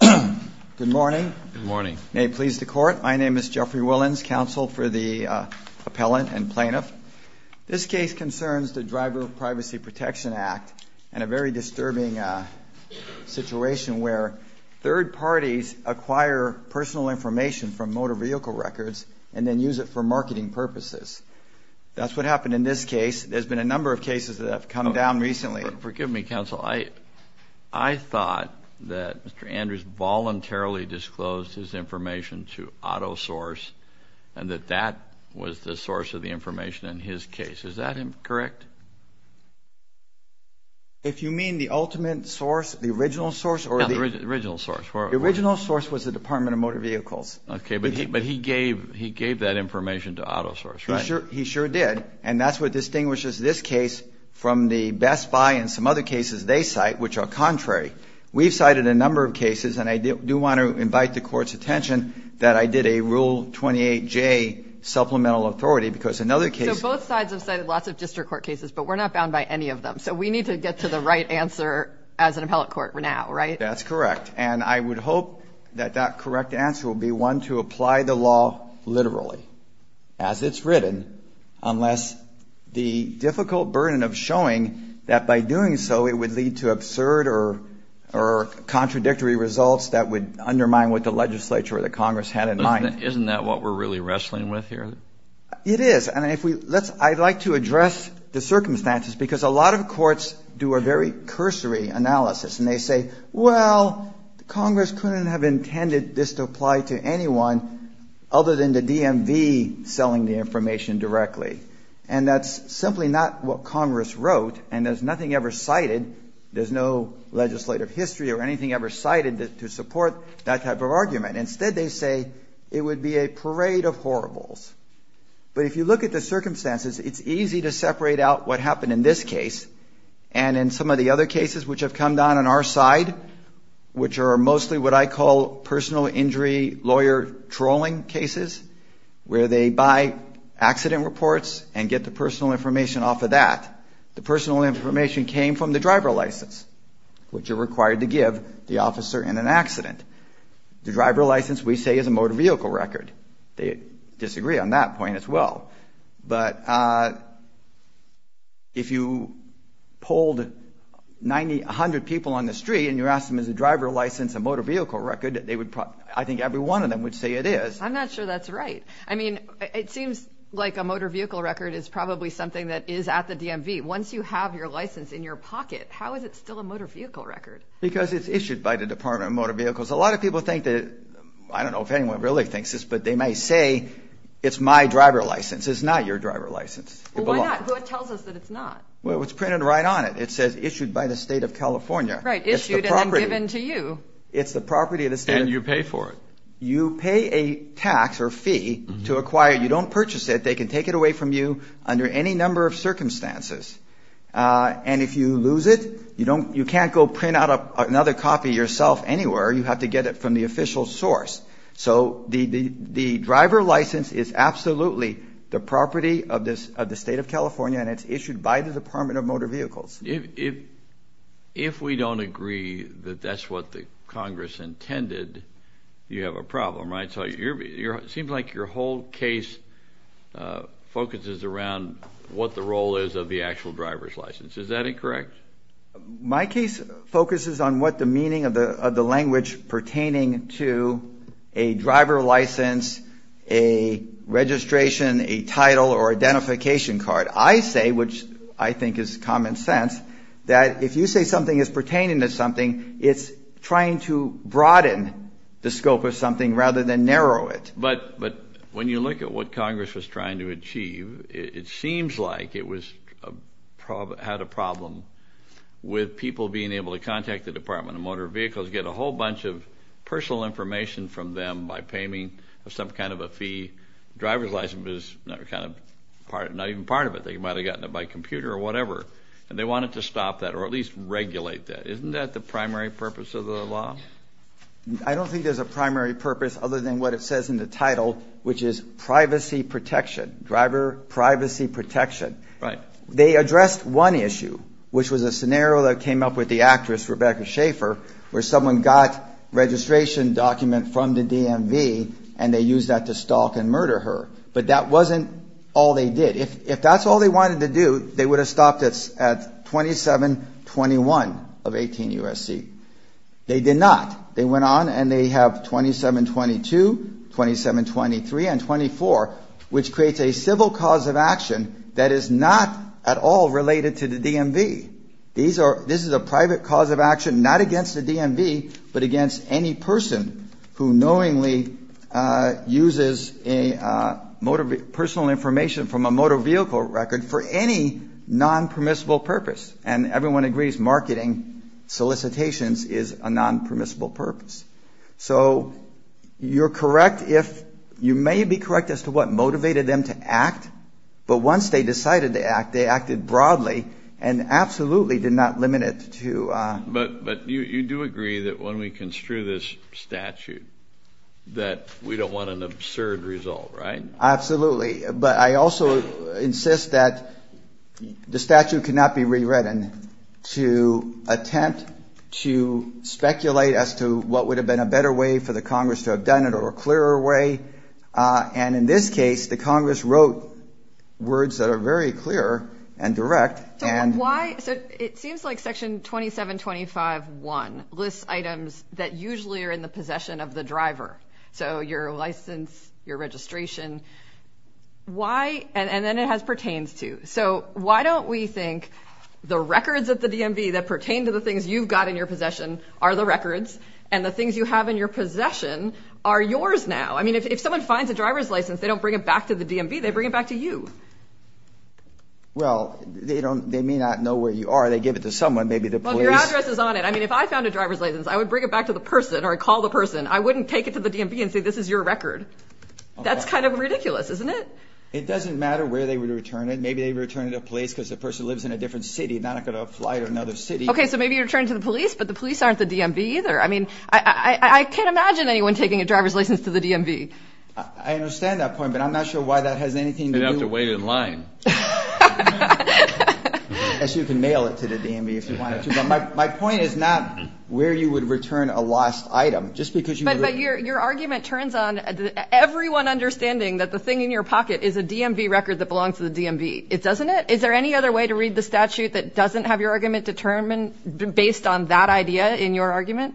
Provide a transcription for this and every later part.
Good morning. May it please the Court. My name is Jeffrey Willens, Counsel for the Appellant and Plaintiff. This case concerns the Driver Privacy Protection Act and a very disturbing situation where third parties acquire personal information from motor vehicle records and then use it for marketing purposes. That's what happened in this case. There's been a number of cases that have come down recently. Forgive me, Counsel. I thought that Mr. Andrews voluntarily disclosed his information to AutoSource and that that was the source of the information in his case. Is that correct? If you mean the ultimate source, the original source? Yeah, the original source. The original source was the Department of Motor Vehicles. Okay, but he gave that information to AutoSource, right? He sure did, and that's what distinguishes this case from the Best Buy and some other cases they cite, which are contrary. We've cited a number of cases, and I do want to invite the Court's attention, that I did a Rule 28J supplemental authority because in other cases — So both sides have cited lots of district court cases, but we're not bound by any of them. So we need to get to the right answer as an appellate court now, right? That's correct, and I would hope that that correct answer will be one to apply the law literally, as it's written, unless the difficult burden of showing that by doing so it would lead to absurd or contradictory results that would undermine what the legislature or the Congress had in mind. Isn't that what we're really wrestling with here? It is, and I'd like to address the circumstances because a lot of courts do a very cursory analysis, and they say, well, Congress couldn't have intended this to apply to anyone other than the DMV selling the information directly. And that's simply not what Congress wrote, and there's nothing ever cited. There's no legislative history or anything ever cited to support that type of argument. Instead, they say it would be a parade of horribles. But if you look at the circumstances, it's easy to separate out what happened in this case and in some of the other cases which have come down on our side, which are mostly what I call personal injury lawyer trolling cases, where they buy accident reports and get the personal information off of that. The personal information came from the driver license, which you're required to give the officer in an accident. The driver license, we say, is a motor vehicle record. They disagree on that point as well. But if you polled 100 people on the street and you asked them, is the driver license a motor vehicle record, I think every one of them would say it is. I'm not sure that's right. I mean, it seems like a motor vehicle record is probably something that is at the DMV. Once you have your license in your pocket, how is it still a motor vehicle record? Because it's issued by the Department of Motor Vehicles. A lot of people think that – I don't know if anyone really thinks this, but they may say it's my driver license. It's not your driver license. Well, why not? It tells us that it's not. Well, it's printed right on it. It says issued by the state of California. Right, issued and then given to you. It's the property of the state. And you pay for it. You pay a tax or fee to acquire. You don't purchase it. They can take it away from you under any number of circumstances. And if you lose it, you can't go print out another copy yourself anywhere. You have to get it from the official source. So the driver license is absolutely the property of the state of California, and it's issued by the Department of Motor Vehicles. If we don't agree that that's what the Congress intended, you have a problem, right? It seems like your whole case focuses around what the role is of the actual driver's license. Is that incorrect? My case focuses on what the meaning of the language pertaining to a driver license, a registration, a title, or identification card. I say, which I think is common sense, that if you say something is pertaining to something, it's trying to broaden the scope of something rather than narrow it. But when you look at what Congress was trying to achieve, it seems like it had a problem with people being able to contact the Department of Motor Vehicles, get a whole bunch of personal information from them by paving some kind of a fee. The driver's license was not even part of it. They might have gotten it by computer or whatever. And they wanted to stop that or at least regulate that. Isn't that the primary purpose of the law? I don't think there's a primary purpose other than what it says in the title, which is privacy protection, driver privacy protection. Right. They addressed one issue, which was a scenario that came up with the actress, Rebecca Schaefer, where someone got a registration document from the DMV, and they used that to stalk and murder her. But that wasn't all they did. If that's all they wanted to do, they would have stopped at 2721 of 18 U.S.C. They did not. They went on and they have 2722, 2723, and 24, which creates a civil cause of action that is not at all related to the DMV. This is a private cause of action, not against the DMV, but against any person who knowingly uses personal information from a motor vehicle record for any non-permissible purpose. And everyone agrees marketing solicitations is a non-permissible purpose. So you're correct if you may be correct as to what motivated them to act. But once they decided to act, they acted broadly and absolutely did not limit it to. But you do agree that when we construe this statute that we don't want an absurd result, right? Absolutely. But I also insist that the statute cannot be rewritten to attempt to speculate as to what would have been a better way for the Congress to have done it or a clearer way. And in this case, the Congress wrote words that are very clear and direct. So it seems like Section 2725.1 lists items that usually are in the possession of the driver. So your license, your registration. Why? And then it has pertains to. So why don't we think the records at the DMV that pertain to the things you've got in your possession are the records, and the things you have in your possession are yours now? I mean, if someone finds a driver's license, they don't bring it back to the DMV. They bring it back to you. Well, they may not know where you are. They give it to someone, maybe the police. Well, if your address is on it. I mean, if I found a driver's license, I would bring it back to the person or call the person. I wouldn't take it to the DMV and say, this is your record. That's kind of ridiculous, isn't it? It doesn't matter where they would return it. Maybe they return it to the police because the person lives in a different city, not in a flight or another city. Okay, so maybe you return it to the police, but the police aren't the DMV either. I mean, I can't imagine anyone taking a driver's license to the DMV. I understand that point, but I'm not sure why that has anything to do with it. They'd have to wait in line. Yes, you can mail it to the DMV if you wanted to. But my point is not where you would return a lost item. But your argument turns on everyone understanding that the thing in your pocket is a DMV record that belongs to the DMV. It doesn't it? Is there any other way to read the statute that doesn't have your argument determined based on that idea in your argument?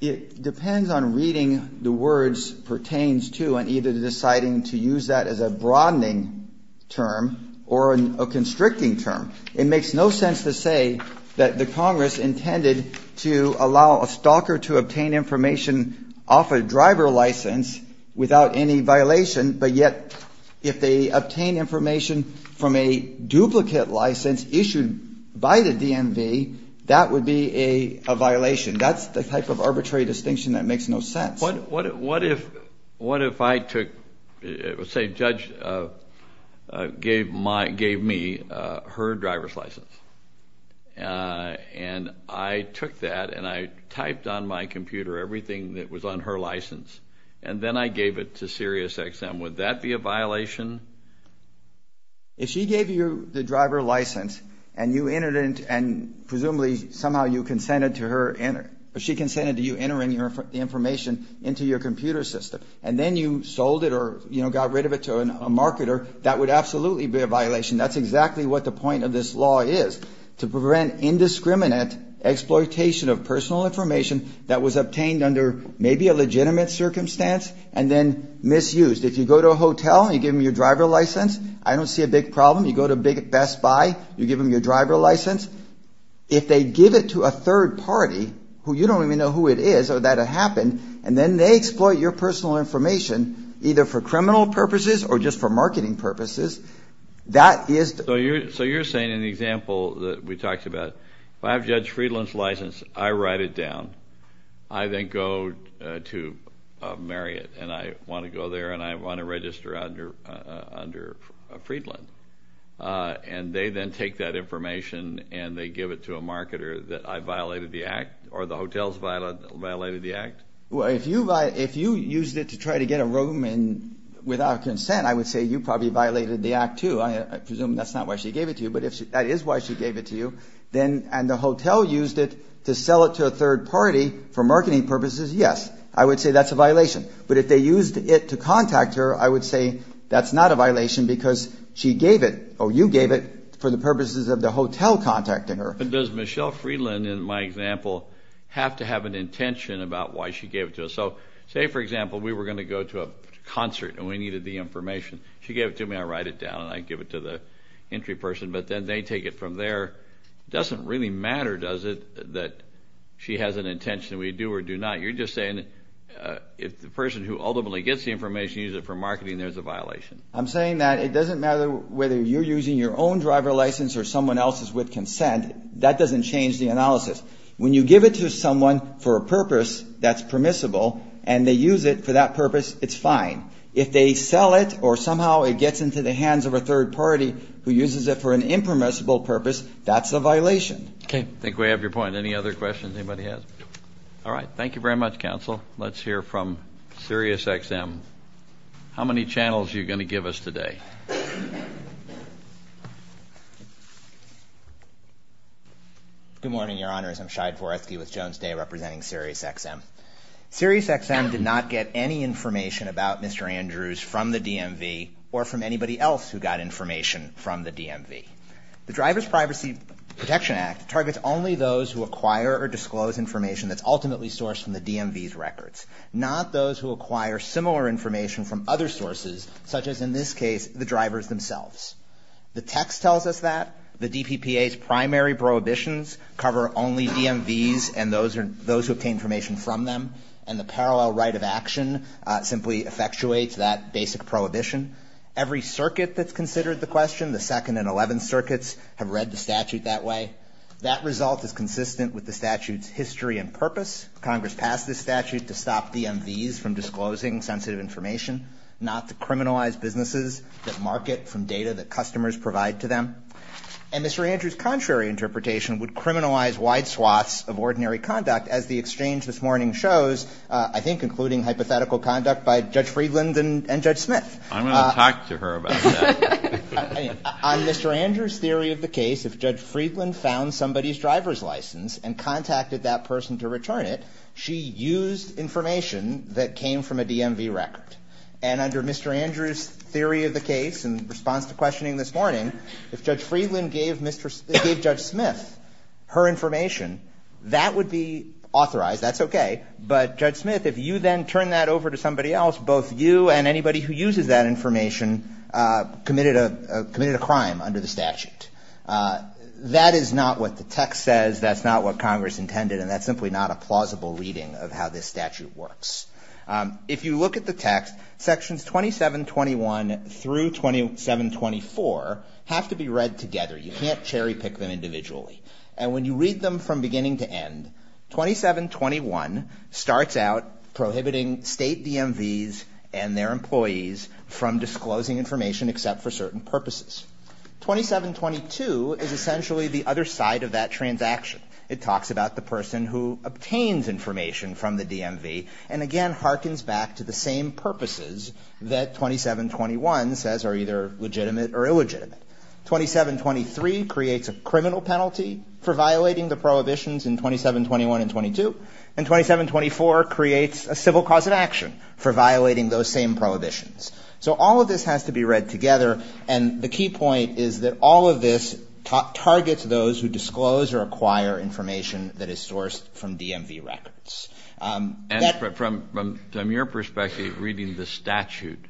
It depends on reading the words pertains to and either deciding to use that as a broadening term or a constricting term. It makes no sense to say that the Congress intended to allow a stalker to obtain information off a driver license without any violation, but yet if they obtain information from a duplicate license issued by the DMV, that would be a violation. That's the type of arbitrary distinction that makes no sense. What if I took, say a judge gave me her driver's license, and I took that and I typed on my computer everything that was on her license, and then I gave it to SiriusXM, would that be a violation? If she gave you the driver license and you entered it and presumably somehow you consented to her, she consented to you entering the information into your computer system, and then you sold it or got rid of it to a marketer, that would absolutely be a violation. That's exactly what the point of this law is, to prevent indiscriminate exploitation of personal information that was obtained under maybe a legitimate circumstance and then misused. If you go to a hotel and you give them your driver license, I don't see a big problem. You go to Best Buy, you give them your driver license. If they give it to a third party, who you don't even know who it is, or that it happened, and then they exploit your personal information, either for criminal purposes or just for marketing purposes, that is... So you're saying in the example that we talked about, if I have Judge Friedland's license, I write it down, I then go to Marriott, and I want to go there and I want to register under Friedland. And they then take that information and they give it to a marketer that I violated the act, or the hotel's violated the act? Well, if you used it to try to get a room without consent, I would say you probably violated the act, too. I presume that's not why she gave it to you, but that is why she gave it to you. And the hotel used it to sell it to a third party for marketing purposes, yes, I would say that's a violation. But if they used it to contact her, I would say that's not a violation because she gave it, or you gave it, for the purposes of the hotel contacting her. But does Michelle Friedland, in my example, have to have an intention about why she gave it to us? So say, for example, we were going to go to a concert and we needed the information. She gave it to me, I write it down, and I give it to the entry person, but then they take it from there. It doesn't really matter, does it, that she has an intention. We do or do not. You're just saying if the person who ultimately gets the information uses it for marketing, there's a violation. I'm saying that it doesn't matter whether you're using your own driver license or someone else's with consent. That doesn't change the analysis. When you give it to someone for a purpose that's permissible and they use it for that purpose, it's fine. If they sell it or somehow it gets into the hands of a third party who uses it for an impermissible purpose, that's a violation. Okay. I think we have your point. Any other questions anybody has? All right. Thank you very much, Counsel. Let's hear from Sirius XM. How many channels are you going to give us today? Good morning, Your Honors. I'm Shai Dvoretsky with Jones Day representing Sirius XM. Sirius XM did not get any information about Mr. Andrews from the DMV or from anybody else who got information from the DMV. The Driver's Privacy Protection Act targets only those who acquire or disclose information that's ultimately sourced from the DMV's records, not those who acquire similar information from other sources such as, in this case, the drivers themselves. The text tells us that. The DPPA's primary prohibitions cover only DMVs and those who obtain information from them, and the parallel right of action simply effectuates that basic prohibition. Every circuit that's considered the question, the Second and Eleventh Circuits, have read the statute that way. That result is consistent with the statute's history and purpose. Congress passed this statute to stop DMVs from disclosing sensitive information, not to criminalize businesses that market from data that customers provide to them. And Mr. Andrews' contrary interpretation would criminalize wide swaths of ordinary conduct, as the exchange this morning shows, I think including hypothetical conduct by Judge Friedland and Judge Smith. I'm going to talk to her about that. On Mr. Andrews' theory of the case, if Judge Friedland found somebody's driver's license and contacted that person to return it, she used information that came from a DMV record. And under Mr. Andrews' theory of the case in response to questioning this morning, if Judge Friedland gave Judge Smith her information, that would be authorized. That's okay. But Judge Smith, if you then turn that over to somebody else, both you and anybody who uses that information committed a crime under the statute. That is not what the text says. That's not what Congress intended. And that's simply not a plausible reading of how this statute works. If you look at the text, Sections 2721 through 2724 have to be read together. You can't cherry-pick them individually. And when you read them from beginning to end, 2721 starts out prohibiting state DMVs and their employees from disclosing information except for certain purposes. 2722 is essentially the other side of that transaction. It talks about the person who obtains information from the DMV and, again, harkens back to the same purposes that 2721 says are either legitimate or illegitimate. 2723 creates a criminal penalty for violating the prohibitions in 2721 and 22. And 2724 creates a civil cause of action for violating those same prohibitions. So all of this has to be read together. And the key point is that all of this targets those who disclose or acquire information that is sourced from DMV records. And from your perspective, reading the statute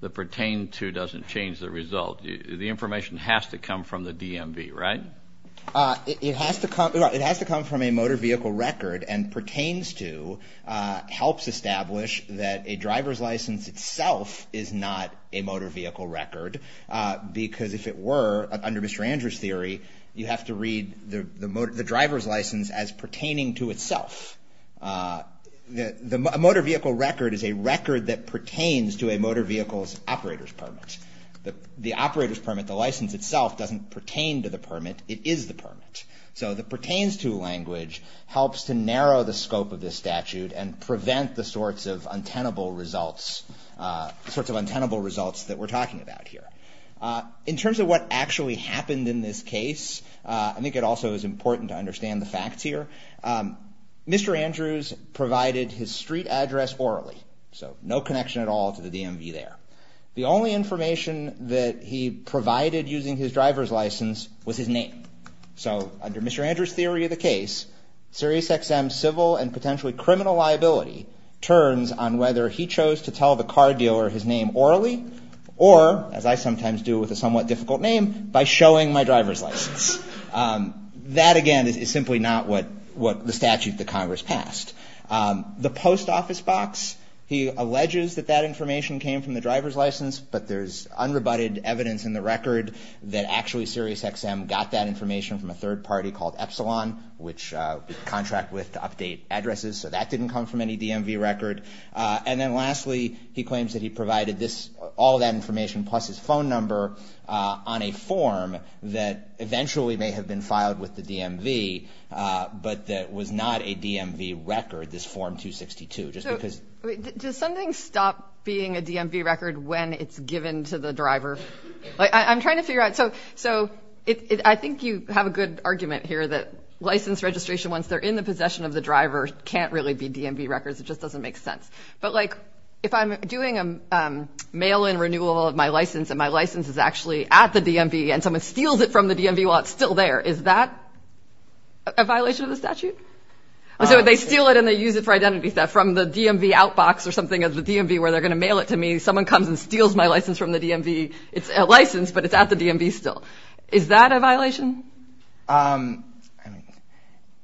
that pertained to doesn't change the result. The information has to come from the DMV, right? It has to come from a motor vehicle record and pertains to helps establish that a driver's license itself is not a motor vehicle record, because if it were, under Mr. Andrews' theory, you have to read the driver's license as pertaining to itself. A motor vehicle record is a record that pertains to a motor vehicle's operator's permit. The operator's permit, the license itself, doesn't pertain to the permit. It is the permit. So the pertains to language helps to narrow the scope of this statute and prevent the sorts of untenable results that we're talking about here. In terms of what actually happened in this case, I think it also is important to understand the facts here. Mr. Andrews provided his street address orally, so no connection at all to the DMV there. The only information that he provided using his driver's license was his name. So under Mr. Andrews' theory of the case, SiriusXM's civil and potentially criminal liability turns on whether he chose to tell the car dealer his name orally or, as I sometimes do with a somewhat difficult name, by showing my driver's license. That, again, is simply not what the statute that Congress passed. The post office box, he alleges that that information came from the driver's license, but there's unrebutted evidence in the record that actually SiriusXM got that information from a third party called Epsilon, which we contract with to update addresses. So that didn't come from any DMV record. And then lastly, he claims that he provided all that information plus his phone number on a form that eventually may have been filed with the DMV, but that was not a DMV record, this Form 262. So does something stop being a DMV record when it's given to the driver? I'm trying to figure out. So I think you have a good argument here that license registration, once they're in the possession of the driver, can't really be DMV records. It just doesn't make sense. But, like, if I'm doing a mail-in renewal of my license, and my license is actually at the DMV and someone steals it from the DMV while it's still there, is that a violation of the statute? So they steal it and they use it for identity theft from the DMV outbox or something at the DMV where they're going to mail it to me. Someone comes and steals my license from the DMV. It's a license, but it's at the DMV still. Is that a violation?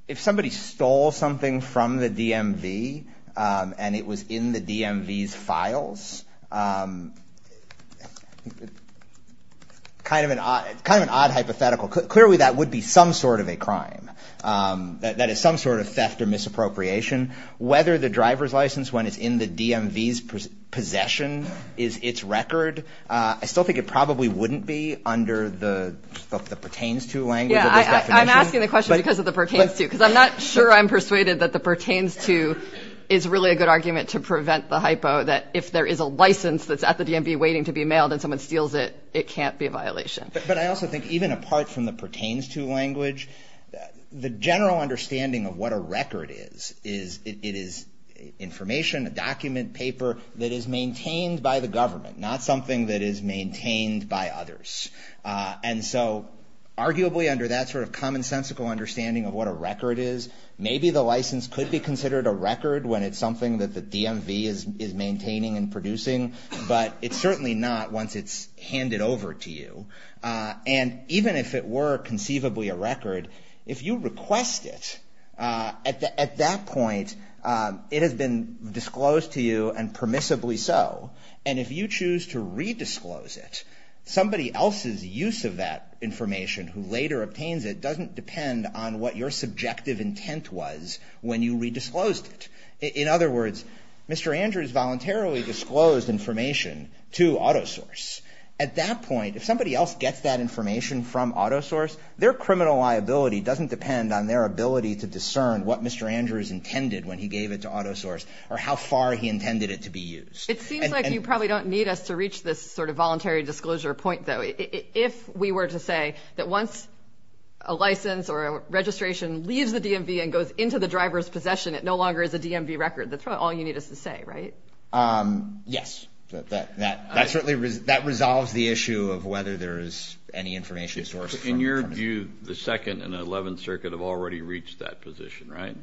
If somebody stole something from the DMV and it was in the DMV's files, kind of an odd hypothetical. Clearly that would be some sort of a crime. That is some sort of theft or misappropriation. Whether the driver's license, when it's in the DMV's possession, is its record, I still think it probably wouldn't be under the pertains to language of this definition. Yeah, I'm asking the question because of the pertains to, because I'm not sure I'm persuaded that the pertains to is really a good argument to prevent the hypo, that if there is a license that's at the DMV waiting to be mailed and someone steals it, it can't be a violation. But I also think even apart from the pertains to language, the general understanding of what a record is, it is information, a document, paper that is maintained by the government, not something that is maintained by others. And so arguably under that sort of commonsensical understanding of what a record is, maybe the license could be considered a record when it's something that the DMV is maintaining and producing, but it's certainly not once it's handed over to you. And even if it were conceivably a record, if you request it, at that point, it has been disclosed to you and permissibly so. And if you choose to redisclose it, somebody else's use of that information who later obtains it doesn't depend on what your subjective intent was when you redisclosed it. In other words, Mr. Andrews voluntarily disclosed information to AutoSource. At that point, if somebody else gets that information from AutoSource, their criminal liability doesn't depend on their ability to discern what Mr. Andrews intended when he gave it to AutoSource or how far he intended it to be used. It seems like you probably don't need us to reach this sort of voluntary disclosure point, though. If we were to say that once a license or registration leaves the DMV and goes into the driver's possession, it no longer is a DMV record, that's probably all you need us to say, right? Yes. That certainly resolves the issue of whether there is any information to source. In your view, the Second and Eleventh Circuit have already reached that position, right?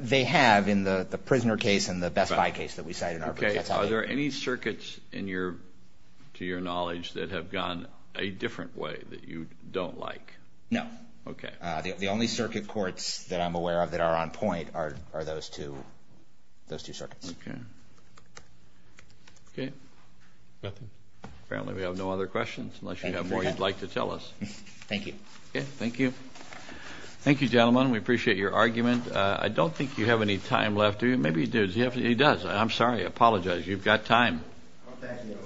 They have in the prisoner case and the Best Buy case that we cited in our brief. Are there any circuits to your knowledge that have gone a different way that you don't like? No. Okay. The only circuit courts that I'm aware of that are on point are those two circuits. Okay. Okay. Nothing? Apparently we have no other questions unless you have more you'd like to tell us. Thank you. Okay. Thank you. Thank you, gentlemen. We appreciate your argument. I don't think you have any time left. Maybe he does. He does. I'm sorry. I apologize. You've got time. Thank you.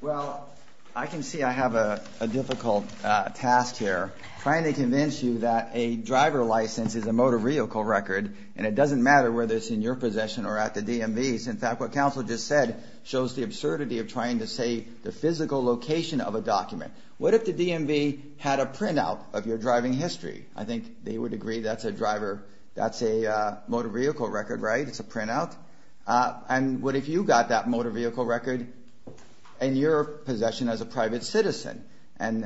Well, I can see I have a difficult task here, trying to convince you that a driver license is a motor vehicle record, and it doesn't matter whether it's in your possession or at the DMV's. In fact, what counsel just said shows the absurdity of trying to say the physical location of a document. What if the DMV had a printout of your driving history? I think they would agree that's a driver. That's a motor vehicle record, right? It's a printout. And what if you got that motor vehicle record in your possession as a private citizen, and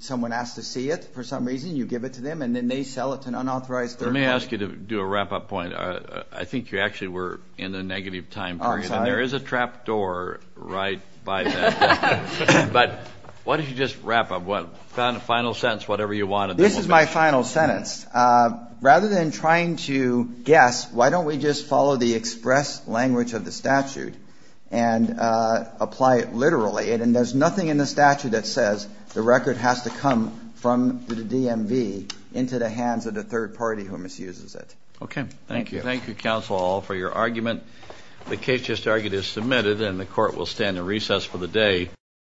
someone asked to see it for some reason, you give it to them, and then they sell it to an unauthorized third party? Let me ask you to do a wrap-up point. I think you actually were in a negative time period. I'm sorry. And there is a trap door right by that. But why don't you just wrap up. Final sentence, whatever you want. This is my final sentence. Rather than trying to guess, why don't we just follow the express language of the statute and apply it literally? And there's nothing in the statute that says the record has to come from the DMV into the hands of the third party who misuses it. Okay. Thank you. Thank you, counsel, all, for your argument. The case just argued is submitted, and the court will stand in recess for the day.